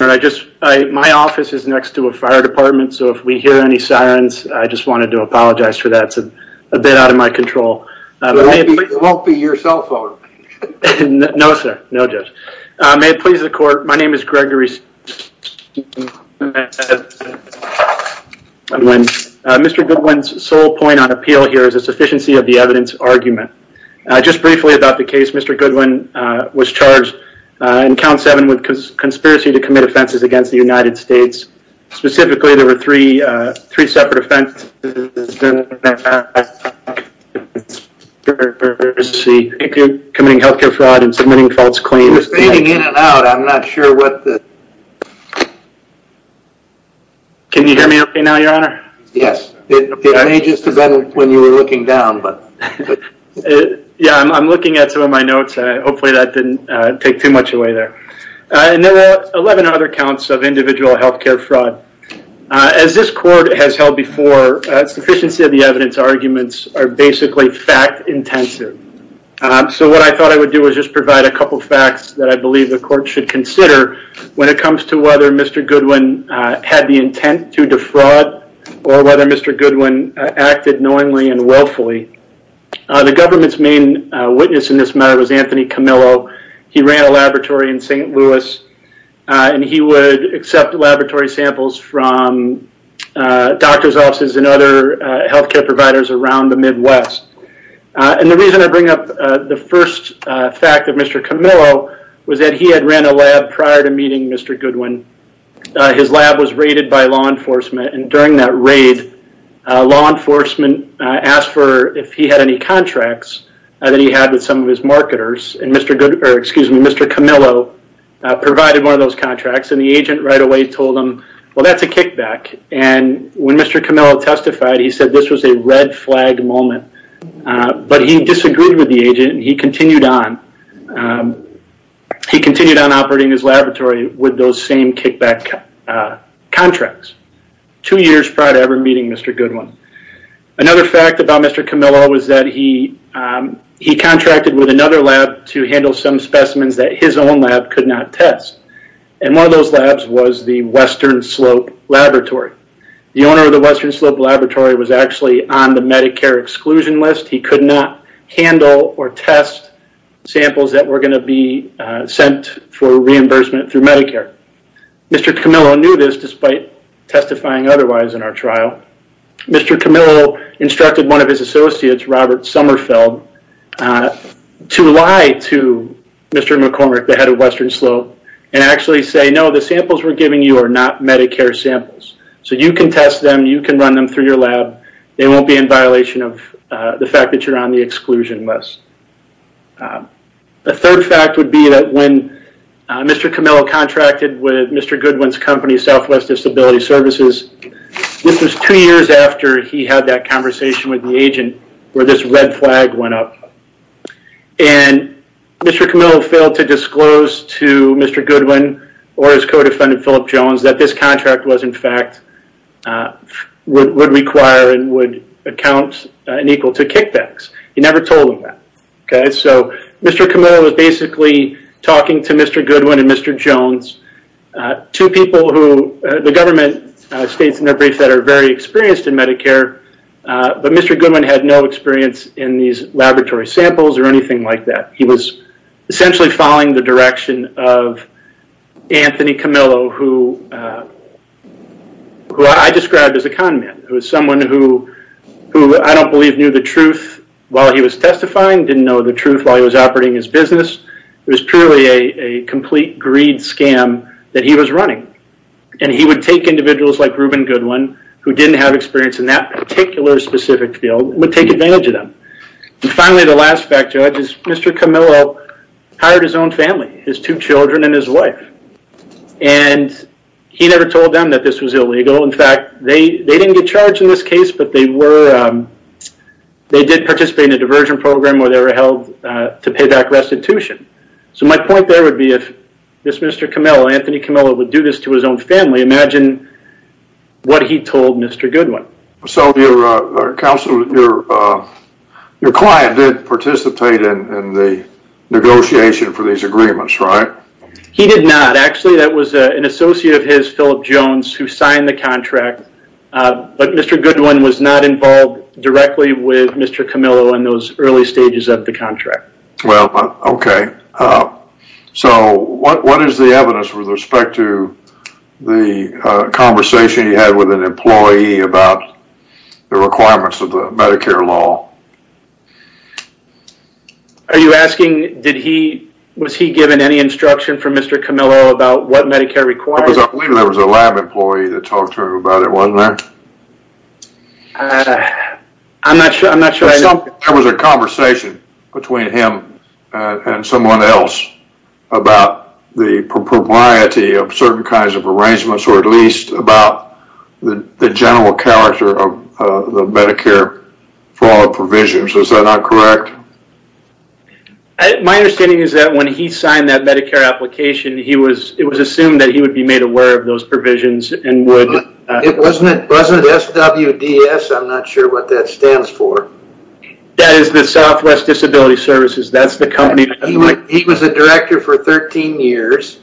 My office is next to a fire department, so if we hear any sirens, I just wanted to apologize for that. It's a bit out of my control. It won't be your cell phone. No, sir. No, Judge. May it please the court, my name is Gregory St. Mr. Goodwin's sole point on appeal here is the sufficiency of the evidence argument. Just briefly about the case, Mr. Goodwin was charged in count seven with conspiracy to commit offenses against the United States. Specifically, there were three separate offenses. Committing healthcare fraud and submitting false claims. You're fading in and out. I'm not sure what the... Can you hear me okay now, Your Honor? Yes. It may just have been when you were looking down, but... Yeah, I'm looking at some of my notes. Hopefully that didn't take too much away there. There were 11 other counts of individual healthcare fraud. As this court has held before, sufficiency of the evidence arguments are basically fact intensive. What I thought I would do is just provide a couple facts that I believe the court should consider when it comes to whether Mr. Goodwin had the intent to defraud or whether Mr. Goodwin acted knowingly and willfully. The government's main witness in this matter was Anthony Camillo. He ran a laboratory in St. Louis. He would accept laboratory samples from doctor's offices and other healthcare providers around the Midwest. The reason I bring up the first fact of Mr. Camillo was that he had ran a lab prior to meeting Mr. Goodwin. His lab was raided by law enforcement. During that raid, law enforcement asked for if he had any contracts that he had with some of his marketers. Mr. Camillo provided one of those contracts. The agent right away told him, well, that's a kickback. When Mr. Camillo testified, he said this was a red flag moment, but he disagreed with the agent. He continued on operating his laboratory with those same kickback contracts two years prior to ever meeting Mr. Goodwin. Another fact about Mr. Camillo was that he contracted with another lab to handle some specimens that his own lab could not test. One of those labs was the Western Slope Laboratory. The owner of the Western Slope Laboratory was actually on the Medicare exclusion list. He could not handle or test samples that were going to be sent for reimbursement through Medicare. Mr. Camillo knew this despite testifying otherwise in our trial. Mr. Camillo instructed one of his associates, Robert Sommerfeld, to lie to Mr. McCormick, the head of Western Slope, and actually say, no, the samples we're giving you are not Medicare samples. You can test them. You can run them through your lab. They won't be in violation of the fact that you're on the exclusion list. A third fact would be that when Mr. Camillo contracted with Mr. Goodwin's company, Southwest Disability Services, this was two years after he had that conversation with the agent where this red flag went up, and Mr. Camillo failed to disclose to Mr. Goodwin or his co-defendant, Phillip Jones, that this contract would require and would account equal to kickbacks. He never told him that. Mr. Camillo was basically talking to Mr. Goodwin and Mr. Jones, two people who the government states in their briefs that are very experienced in Medicare, but Mr. Goodwin had no experience in these laboratory samples or anything like that. He was essentially following the direction of Anthony Camillo, who I described as a con man. It was someone who I don't believe knew the truth while he was testifying, didn't know the truth while he was operating his business. It was purely a complete greed scam that he was running, and he would take individuals like Reuben Goodwin, who didn't have experience in that particular specific field, would take advantage of them. Finally, the last fact, Judge, is Mr. Camillo hired his own family, his two children and his wife, and he never told them that this was illegal. In fact, they didn't get charged in this case, but they did participate in a diversion program where they were held to pay back restitution. My point there would be if this Mr. Camillo, Anthony Camillo, would do this to his own family, imagine what he told Mr. Goodwin. Your client did participate in the negotiation for these agreements, right? He did not. Actually, that was an associate of his, Philip Jones, who signed the contract, but Mr. Goodwin was not involved directly with Mr. Camillo in those early stages of the contract. Well, okay. So what is the evidence with respect to the conversation you had with an employee about the requirements of the Medicare law? Are you asking, was he given any instruction from Mr. Camillo about what Medicare requires? I believe there was a lab employee that talked to him about it, wasn't there? I'm not sure. There was a conversation between him and someone else about the propriety of certain kinds of arrangements or at least about the general character of the Medicare for all provisions. Is that not correct? My understanding is that when he signed that Medicare application, it was assumed that he would be made aware of those provisions and would- Wasn't it SWDS? I'm not sure what that stands for. That is the Southwest Disability Services. That's the company- He was a director for 13 years.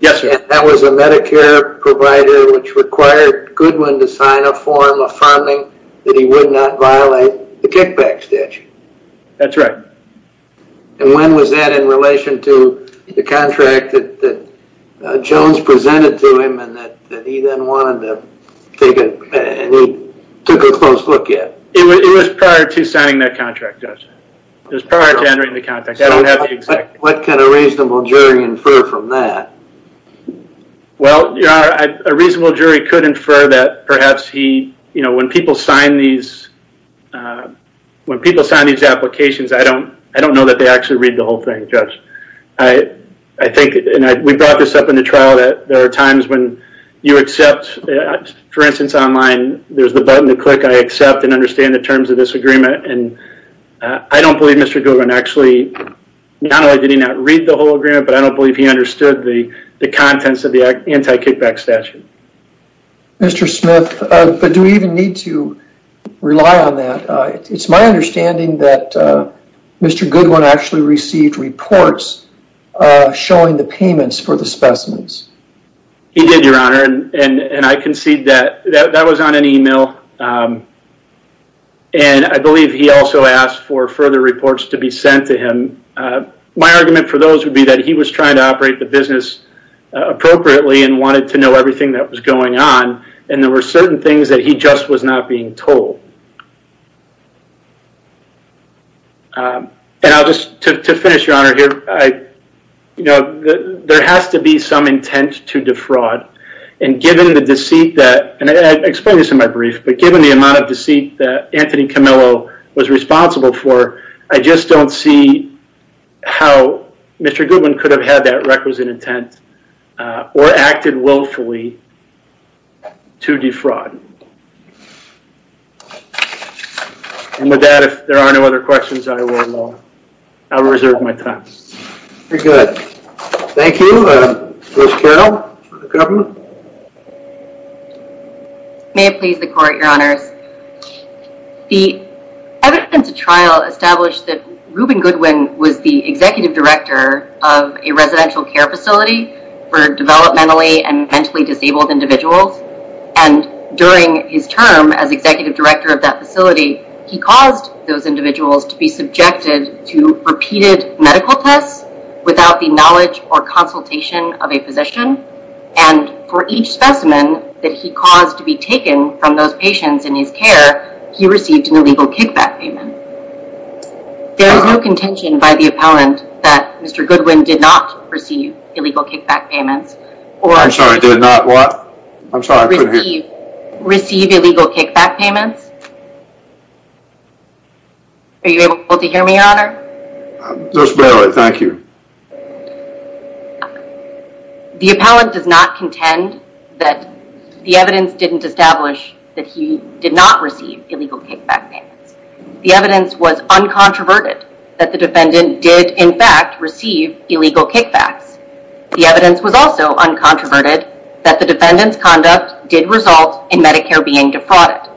Yes, sir. And that was a Medicare provider which required Goodwin to sign a form affirming that he would not violate the kickback statute. That's right. And when was that in relation to the contract that Jones presented to him and that he then wanted to take a- and he took a close look at? It was prior to signing that contract, Judge. It was prior to entering the contract. I don't have the exact- What can a reasonable jury infer from that? Well, a reasonable jury could infer that perhaps he- When people sign these applications, I don't know that they actually read the whole thing, Judge. I think- and we brought this up in the trial, that there are times when you accept- For instance, online, there's the button to click. I accept and understand the terms of this agreement. And I don't believe Mr. Goodwin actually- Not only did he not read the whole agreement, but I don't believe he understood the contents of the anti-kickback statute. Mr. Smith, but do we even need to rely on that? It's my understanding that Mr. Goodwin actually received reports showing the payments for the specimens. He did, Your Honor. And I concede that that was on an email. And I believe he also asked for further reports to be sent to him. My argument for those would be that he was trying to operate the business appropriately and wanted to know everything that was going on. And there were certain things that he just was not being told. And I'll just- to finish, Your Honor, here, there has to be some intent to defraud. And given the deceit that- and I explained this in my brief, but given the amount of deceit that Anthony Camillo was responsible for, I just don't see how Mr. Goodwin could have had that requisite intent or acted willfully to defraud. And with that, if there are no other questions, I will- I will reserve my time. Very good. Thank you. Ms. Carroll, for the government. May it please the court, Your Honors. The evidence of trial established that Ruben Goodwin was the executive director of a residential care facility for developmentally and mentally disabled individuals. And during his term as executive director of that facility, he caused those individuals to be subjected to repeated medical tests without the knowledge or consultation of a physician. And for each specimen that he caused to be taken from those patients in his care, he received an illegal kickback payment. There is no contention by the appellant that Mr. Goodwin did not receive illegal kickback payments. I'm sorry, did not what? I'm sorry, I couldn't hear you. Receive illegal kickback payments. Are you able to hear me, Your Honor? Just barely, thank you. The appellant does not contend that the evidence didn't establish that he did not receive illegal kickback payments. The evidence was uncontroverted that the defendant did, in fact, receive illegal kickbacks. The evidence was also uncontroverted that the defendant's conduct did result in Medicare being defrauded.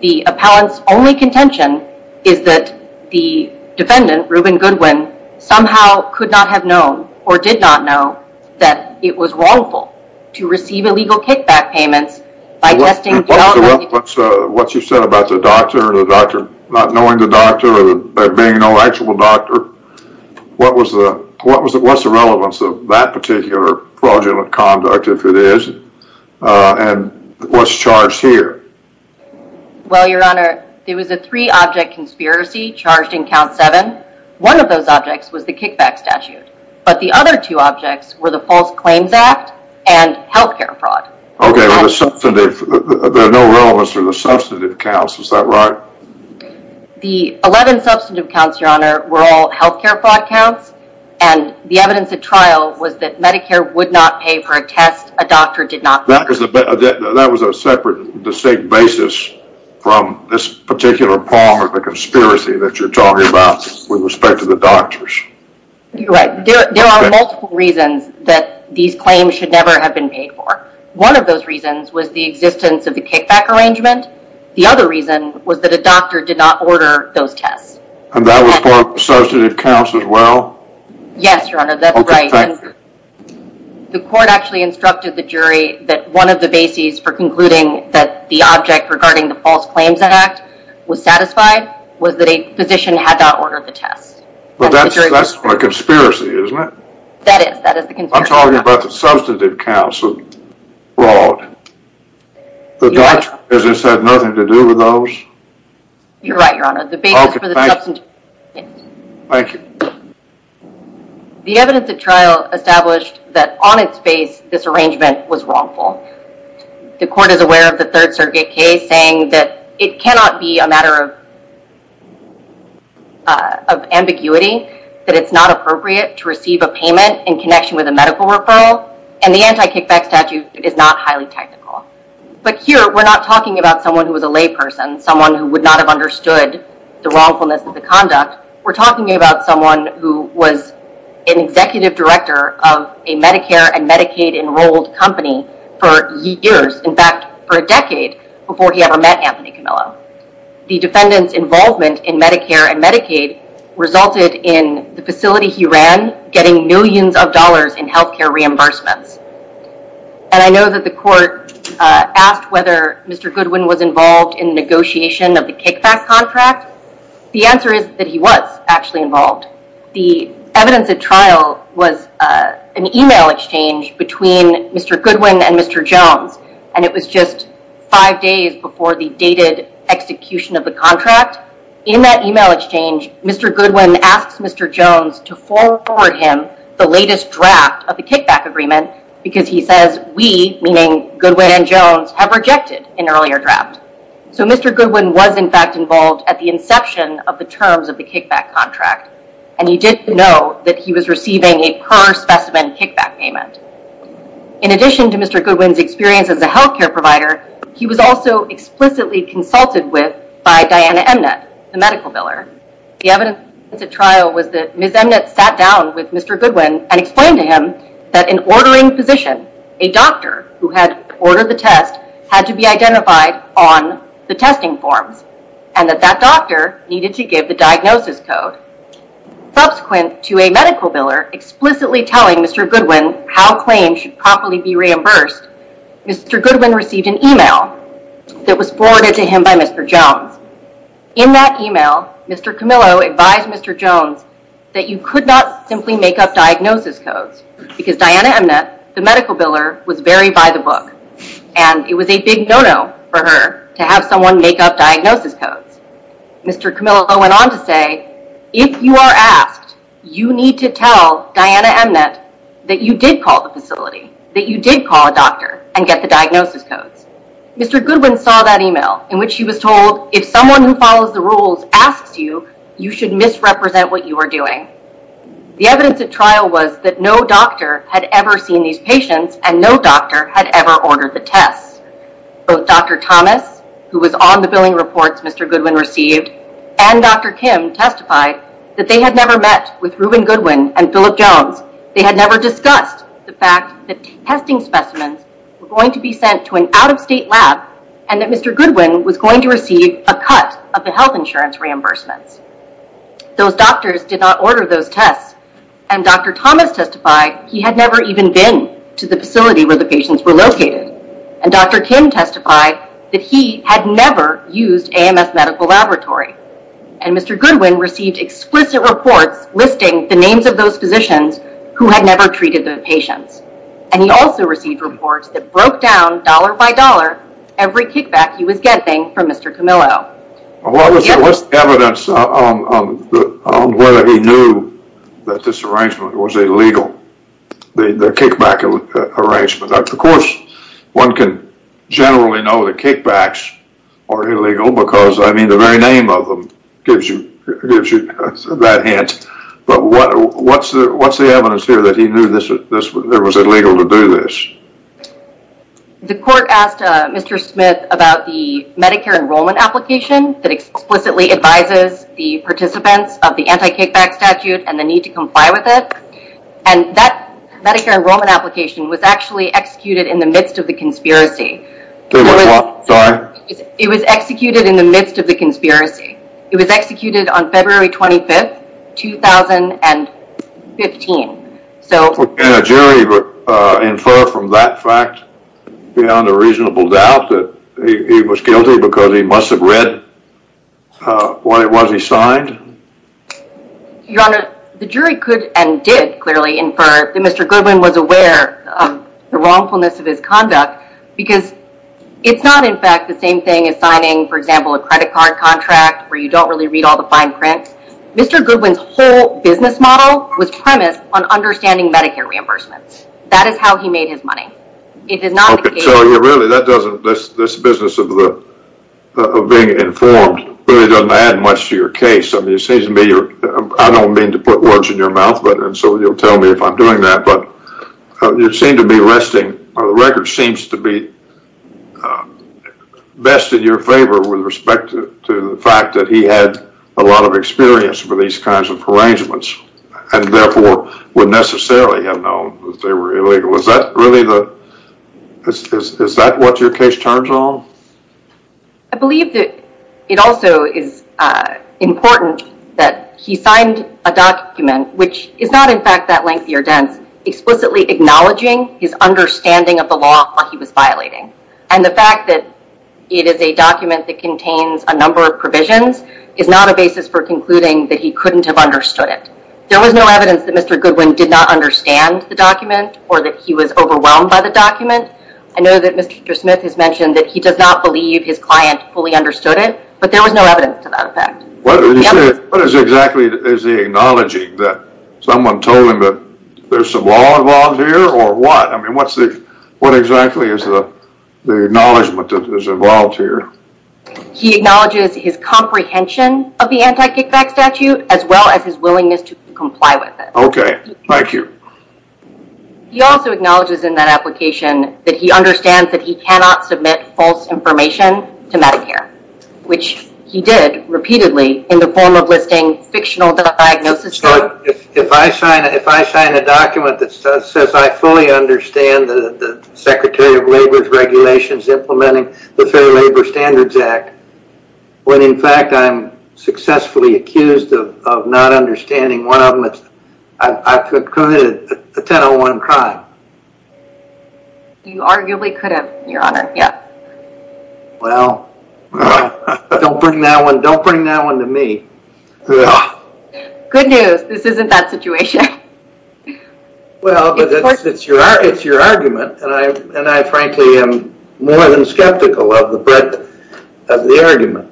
The appellant's only contention is that the defendant, Ruben Goodwin, somehow could not have known or did not know that it was wrongful to receive illegal kickback payments by testing... What you said about the doctor, the doctor not knowing the doctor or being no actual doctor, what was the relevance of that particular fraudulent conduct, if it is, and what's charged here? Well, Your Honor, there was a three-object conspiracy charged in Count 7. One of those objects was the kickback statute, but the other two objects were the False Claims Act and healthcare fraud. Okay, there's no relevance to the substantive counts. Is that right? The 11 substantive counts, Your Honor, were all healthcare fraud counts, and the evidence at trial was that Medicare would not pay for a test a doctor did not pay for. That was a separate, distinct basis from this particular part of the conspiracy that you're talking about with respect to the doctors. You're right. There are multiple reasons that these claims should never have been paid for. One of those reasons was the existence of the kickback arrangement. The other reason was that a doctor did not order those tests. And that was part of the substantive counts as well? Yes, Your Honor, that's right. Okay, thank you. The court actually instructed the jury that one of the bases for concluding that the object regarding the False Claims Act was satisfied was that a physician had not ordered the tests. Well, that's a conspiracy, isn't it? That is, that is the conspiracy. I'm talking about the substantive counts of fraud. The doctor, as I said, had nothing to do with those? You're right, Your Honor. Okay, thank you. Thank you. The evidence at trial established that on its face, this arrangement was wrongful. The court is aware of the Third Circuit case saying that it cannot be a matter of of ambiguity, that it's not appropriate to receive a payment in connection with a medical referral, and the anti-kickback statute is not highly technical. But here, we're not talking about someone who was a layperson, someone who would not have understood the wrongfulness of the conduct. We're talking about someone who was an executive director of a Medicare and Medicaid-enrolled company for years, in fact, for a decade, before he ever met Anthony Camillo. The defendant's involvement in Medicare and Medicaid resulted in the facility he ran getting millions of dollars in health care reimbursements. And I know that the court asked whether Mr. Goodwin was involved in negotiation of the kickback contract. The answer is that he was actually involved. The evidence at trial was an email exchange between Mr. Goodwin and Mr. Jones, and it was just five days before the dated execution of the contract. In that email exchange, Mr. Goodwin asks Mr. Jones to forward him the latest draft of the kickback agreement because he says, we, meaning Goodwin and Jones, have rejected an earlier draft. So Mr. Goodwin was, in fact, involved at the inception of the terms of the kickback contract, and he did know that he was receiving a per-specimen kickback payment. In addition to Mr. Goodwin's experience as a health care provider, he was also explicitly consulted with by Diana Emnett, the medical biller. The evidence at trial was that Ms. Emnett sat down with Mr. Goodwin and explained to him that an ordering physician, a doctor, who had ordered the test had to be identified on the testing forms and that that doctor needed to give the diagnosis code. Subsequent to a medical biller explicitly telling Mr. Goodwin how claims should properly be reimbursed, Mr. Goodwin received an email that was forwarded to him by Mr. Jones. In that email, Mr. Camillo advised Mr. Jones that you could not simply make up diagnosis codes because Diana Emnett, the medical biller, was very by-the-book, and it was a big no-no for her to have someone make up diagnosis codes. Mr. Camillo went on to say, if you are asked, you need to tell Diana Emnett that you did call the facility, that you did call a doctor and get the diagnosis codes. Mr. Goodwin saw that email in which he was told, if someone who follows the rules asks you, you should misrepresent what you are doing. The evidence at trial was that no doctor had ever seen these patients and no doctor had ever ordered the tests. Both Dr. Thomas, who was on the billing reports Mr. Goodwin received, and Dr. Kim testified that they had never met with Reuben Goodwin and Phillip Jones. They had never discussed the fact that testing specimens were going to be sent to an out-of-state lab and that Mr. Goodwin was going to receive a cut of the health insurance reimbursements. Those doctors did not order those tests. And Dr. Thomas testified he had never even been to the facility where the patients were located. And Dr. Kim testified that he had never used AMS Medical Laboratory. And Mr. Goodwin received explicit reports listing the names of those physicians who had never treated the patients. And he also received reports that broke down, dollar by dollar, every kickback he was getting from Mr. Camillo. What's the evidence on whether he knew that this arrangement was illegal, the kickback arrangement? Of course, one can generally know the kickbacks are illegal because the very name of them gives you that hint. But what's the evidence here that he knew it was illegal to do this? The court asked Mr. Smith about the Medicare enrollment application that explicitly advises the participants of the anti-kickback statute and the need to comply with it. And that Medicare enrollment application was actually executed in the midst of the conspiracy. Sorry? It was executed in the midst of the conspiracy. It was executed on February 25, 2015. Can a jury infer from that fact, beyond a reasonable doubt, that he was guilty because he must have read what it was he signed? Your Honor, the jury could and did clearly infer that Mr. Goodwin was aware of the wrongfulness of his conduct because it's not, in fact, the same thing as signing, for example, a credit card contract where you don't really read all the fine print. Mr. Goodwin's whole business model was premised on understanding Medicare reimbursements. That is how he made his money. It is not the case. Okay, so really, this business of being informed really doesn't add much to your case. I mean, it seems to me you're – I don't mean to put words in your mouth, and so you'll tell me if I'm doing that, but you seem to be resting – the record seems to be best in your favor with respect to the fact that he had a lot of experience with these kinds of arrangements and therefore would necessarily have known that they were illegal. Is that really the – is that what your case turns on? I believe that it also is important that he signed a document, which is not, in fact, that lengthy or dense, explicitly acknowledging his understanding of the law while he was violating. And the fact that it is a document that contains a number of provisions is not a basis for concluding that he couldn't have understood it. There was no evidence that Mr. Goodwin did not understand the document or that he was overwhelmed by the document. I know that Mr. Smith has mentioned that he does not believe his client fully understood it, but there was no evidence to that effect. What exactly is he acknowledging? That someone told him that there's some law involved here, or what? I mean, what exactly is the acknowledgement that is involved here? He acknowledges his comprehension of the anti-kickback statute as well as his willingness to comply with it. Okay. Thank you. He also acknowledges in that application that he understands that he cannot submit false information to Medicare, which he did repeatedly in the form of listing fictional diagnoses. If I sign a document that says I fully understand the Secretary of Labor's regulations implementing the Fair Labor Standards Act, when in fact I'm successfully accused of not understanding one of them, I could commit a 1001 crime. You arguably could have, Your Honor. Well, don't bring that one to me. Good news. This isn't that situation. Well, it's your argument, and I frankly am more than skeptical of the argument.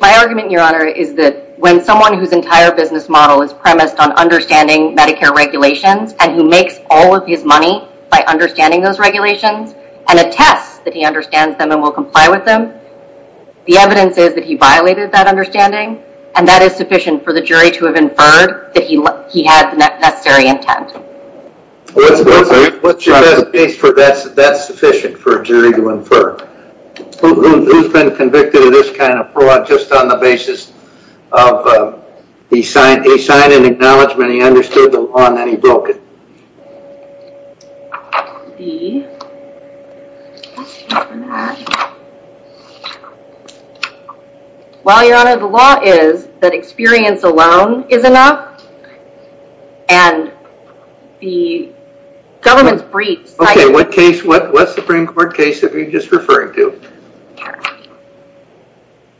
My argument, Your Honor, is that when someone whose entire business model is premised on understanding Medicare regulations and who makes all of his money by understanding those regulations and attests that he understands them and will comply with them, the evidence is that he violated that understanding, and that is sufficient for the jury to have inferred that he had the necessary intent. That's sufficient for a jury to infer. Who's been convicted of this kind of fraud just on the basis of he signed an acknowledgment, he understood the law, and then he broke it? Well, Your Honor, the law is that experience alone is enough, and the government's briefs— Okay, what Supreme Court case are you just referring to?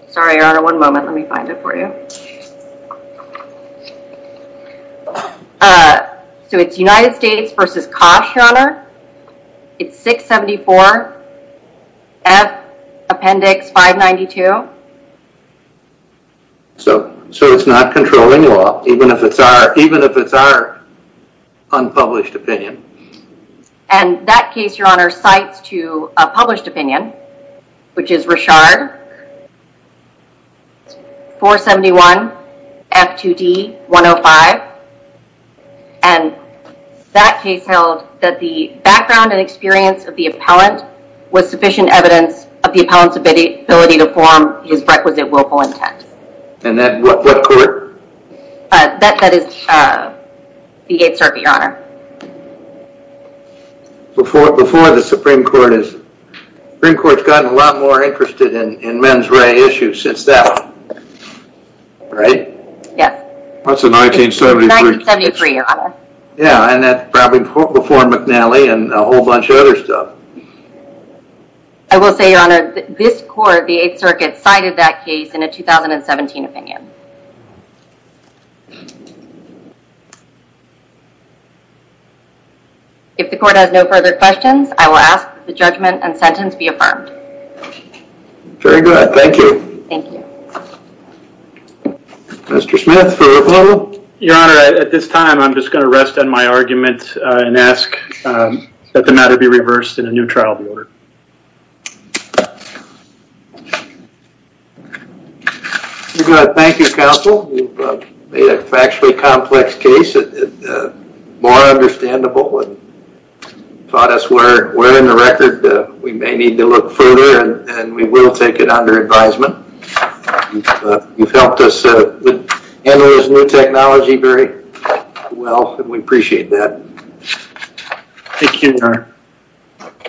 Sorry, Your Honor, one moment. Let me find it for you. So it's United States v. Kosh, Your Honor. It's 674 F Appendix 592. So it's not controlling law, even if it's our unpublished opinion. And that case, Your Honor, cites to a published opinion, which is Richard 471 F2D 105, and that case held that the background and experience of the appellant was sufficient evidence of the appellant's ability to form his requisite willful intent. And that, what court? That is the Eighth Circuit, Your Honor. Before the Supreme Court is— Supreme Court's gotten a lot more interested in mens rea issues since then, right? Yes. That's a 1973 case. 1973, Your Honor. Yeah, and that's probably before McNally and a whole bunch of other stuff. I will say, Your Honor, this court, the Eighth Circuit, cited that case in a 2017 opinion. If the court has no further questions, I will ask that the judgment and sentence be affirmed. Very good. Thank you. Thank you. Mr. Smith for approval. Your Honor, at this time, I'm just going to rest on my argument and ask that the matter be reversed and a new trial be ordered. Very good. Thank you, counsel. You've made a factually complex case, more understandable, and taught us where in the record we may need to look further, and we will take it under advisement. You've helped us handle this new technology very well, and we appreciate that. Thank you, Your Honor.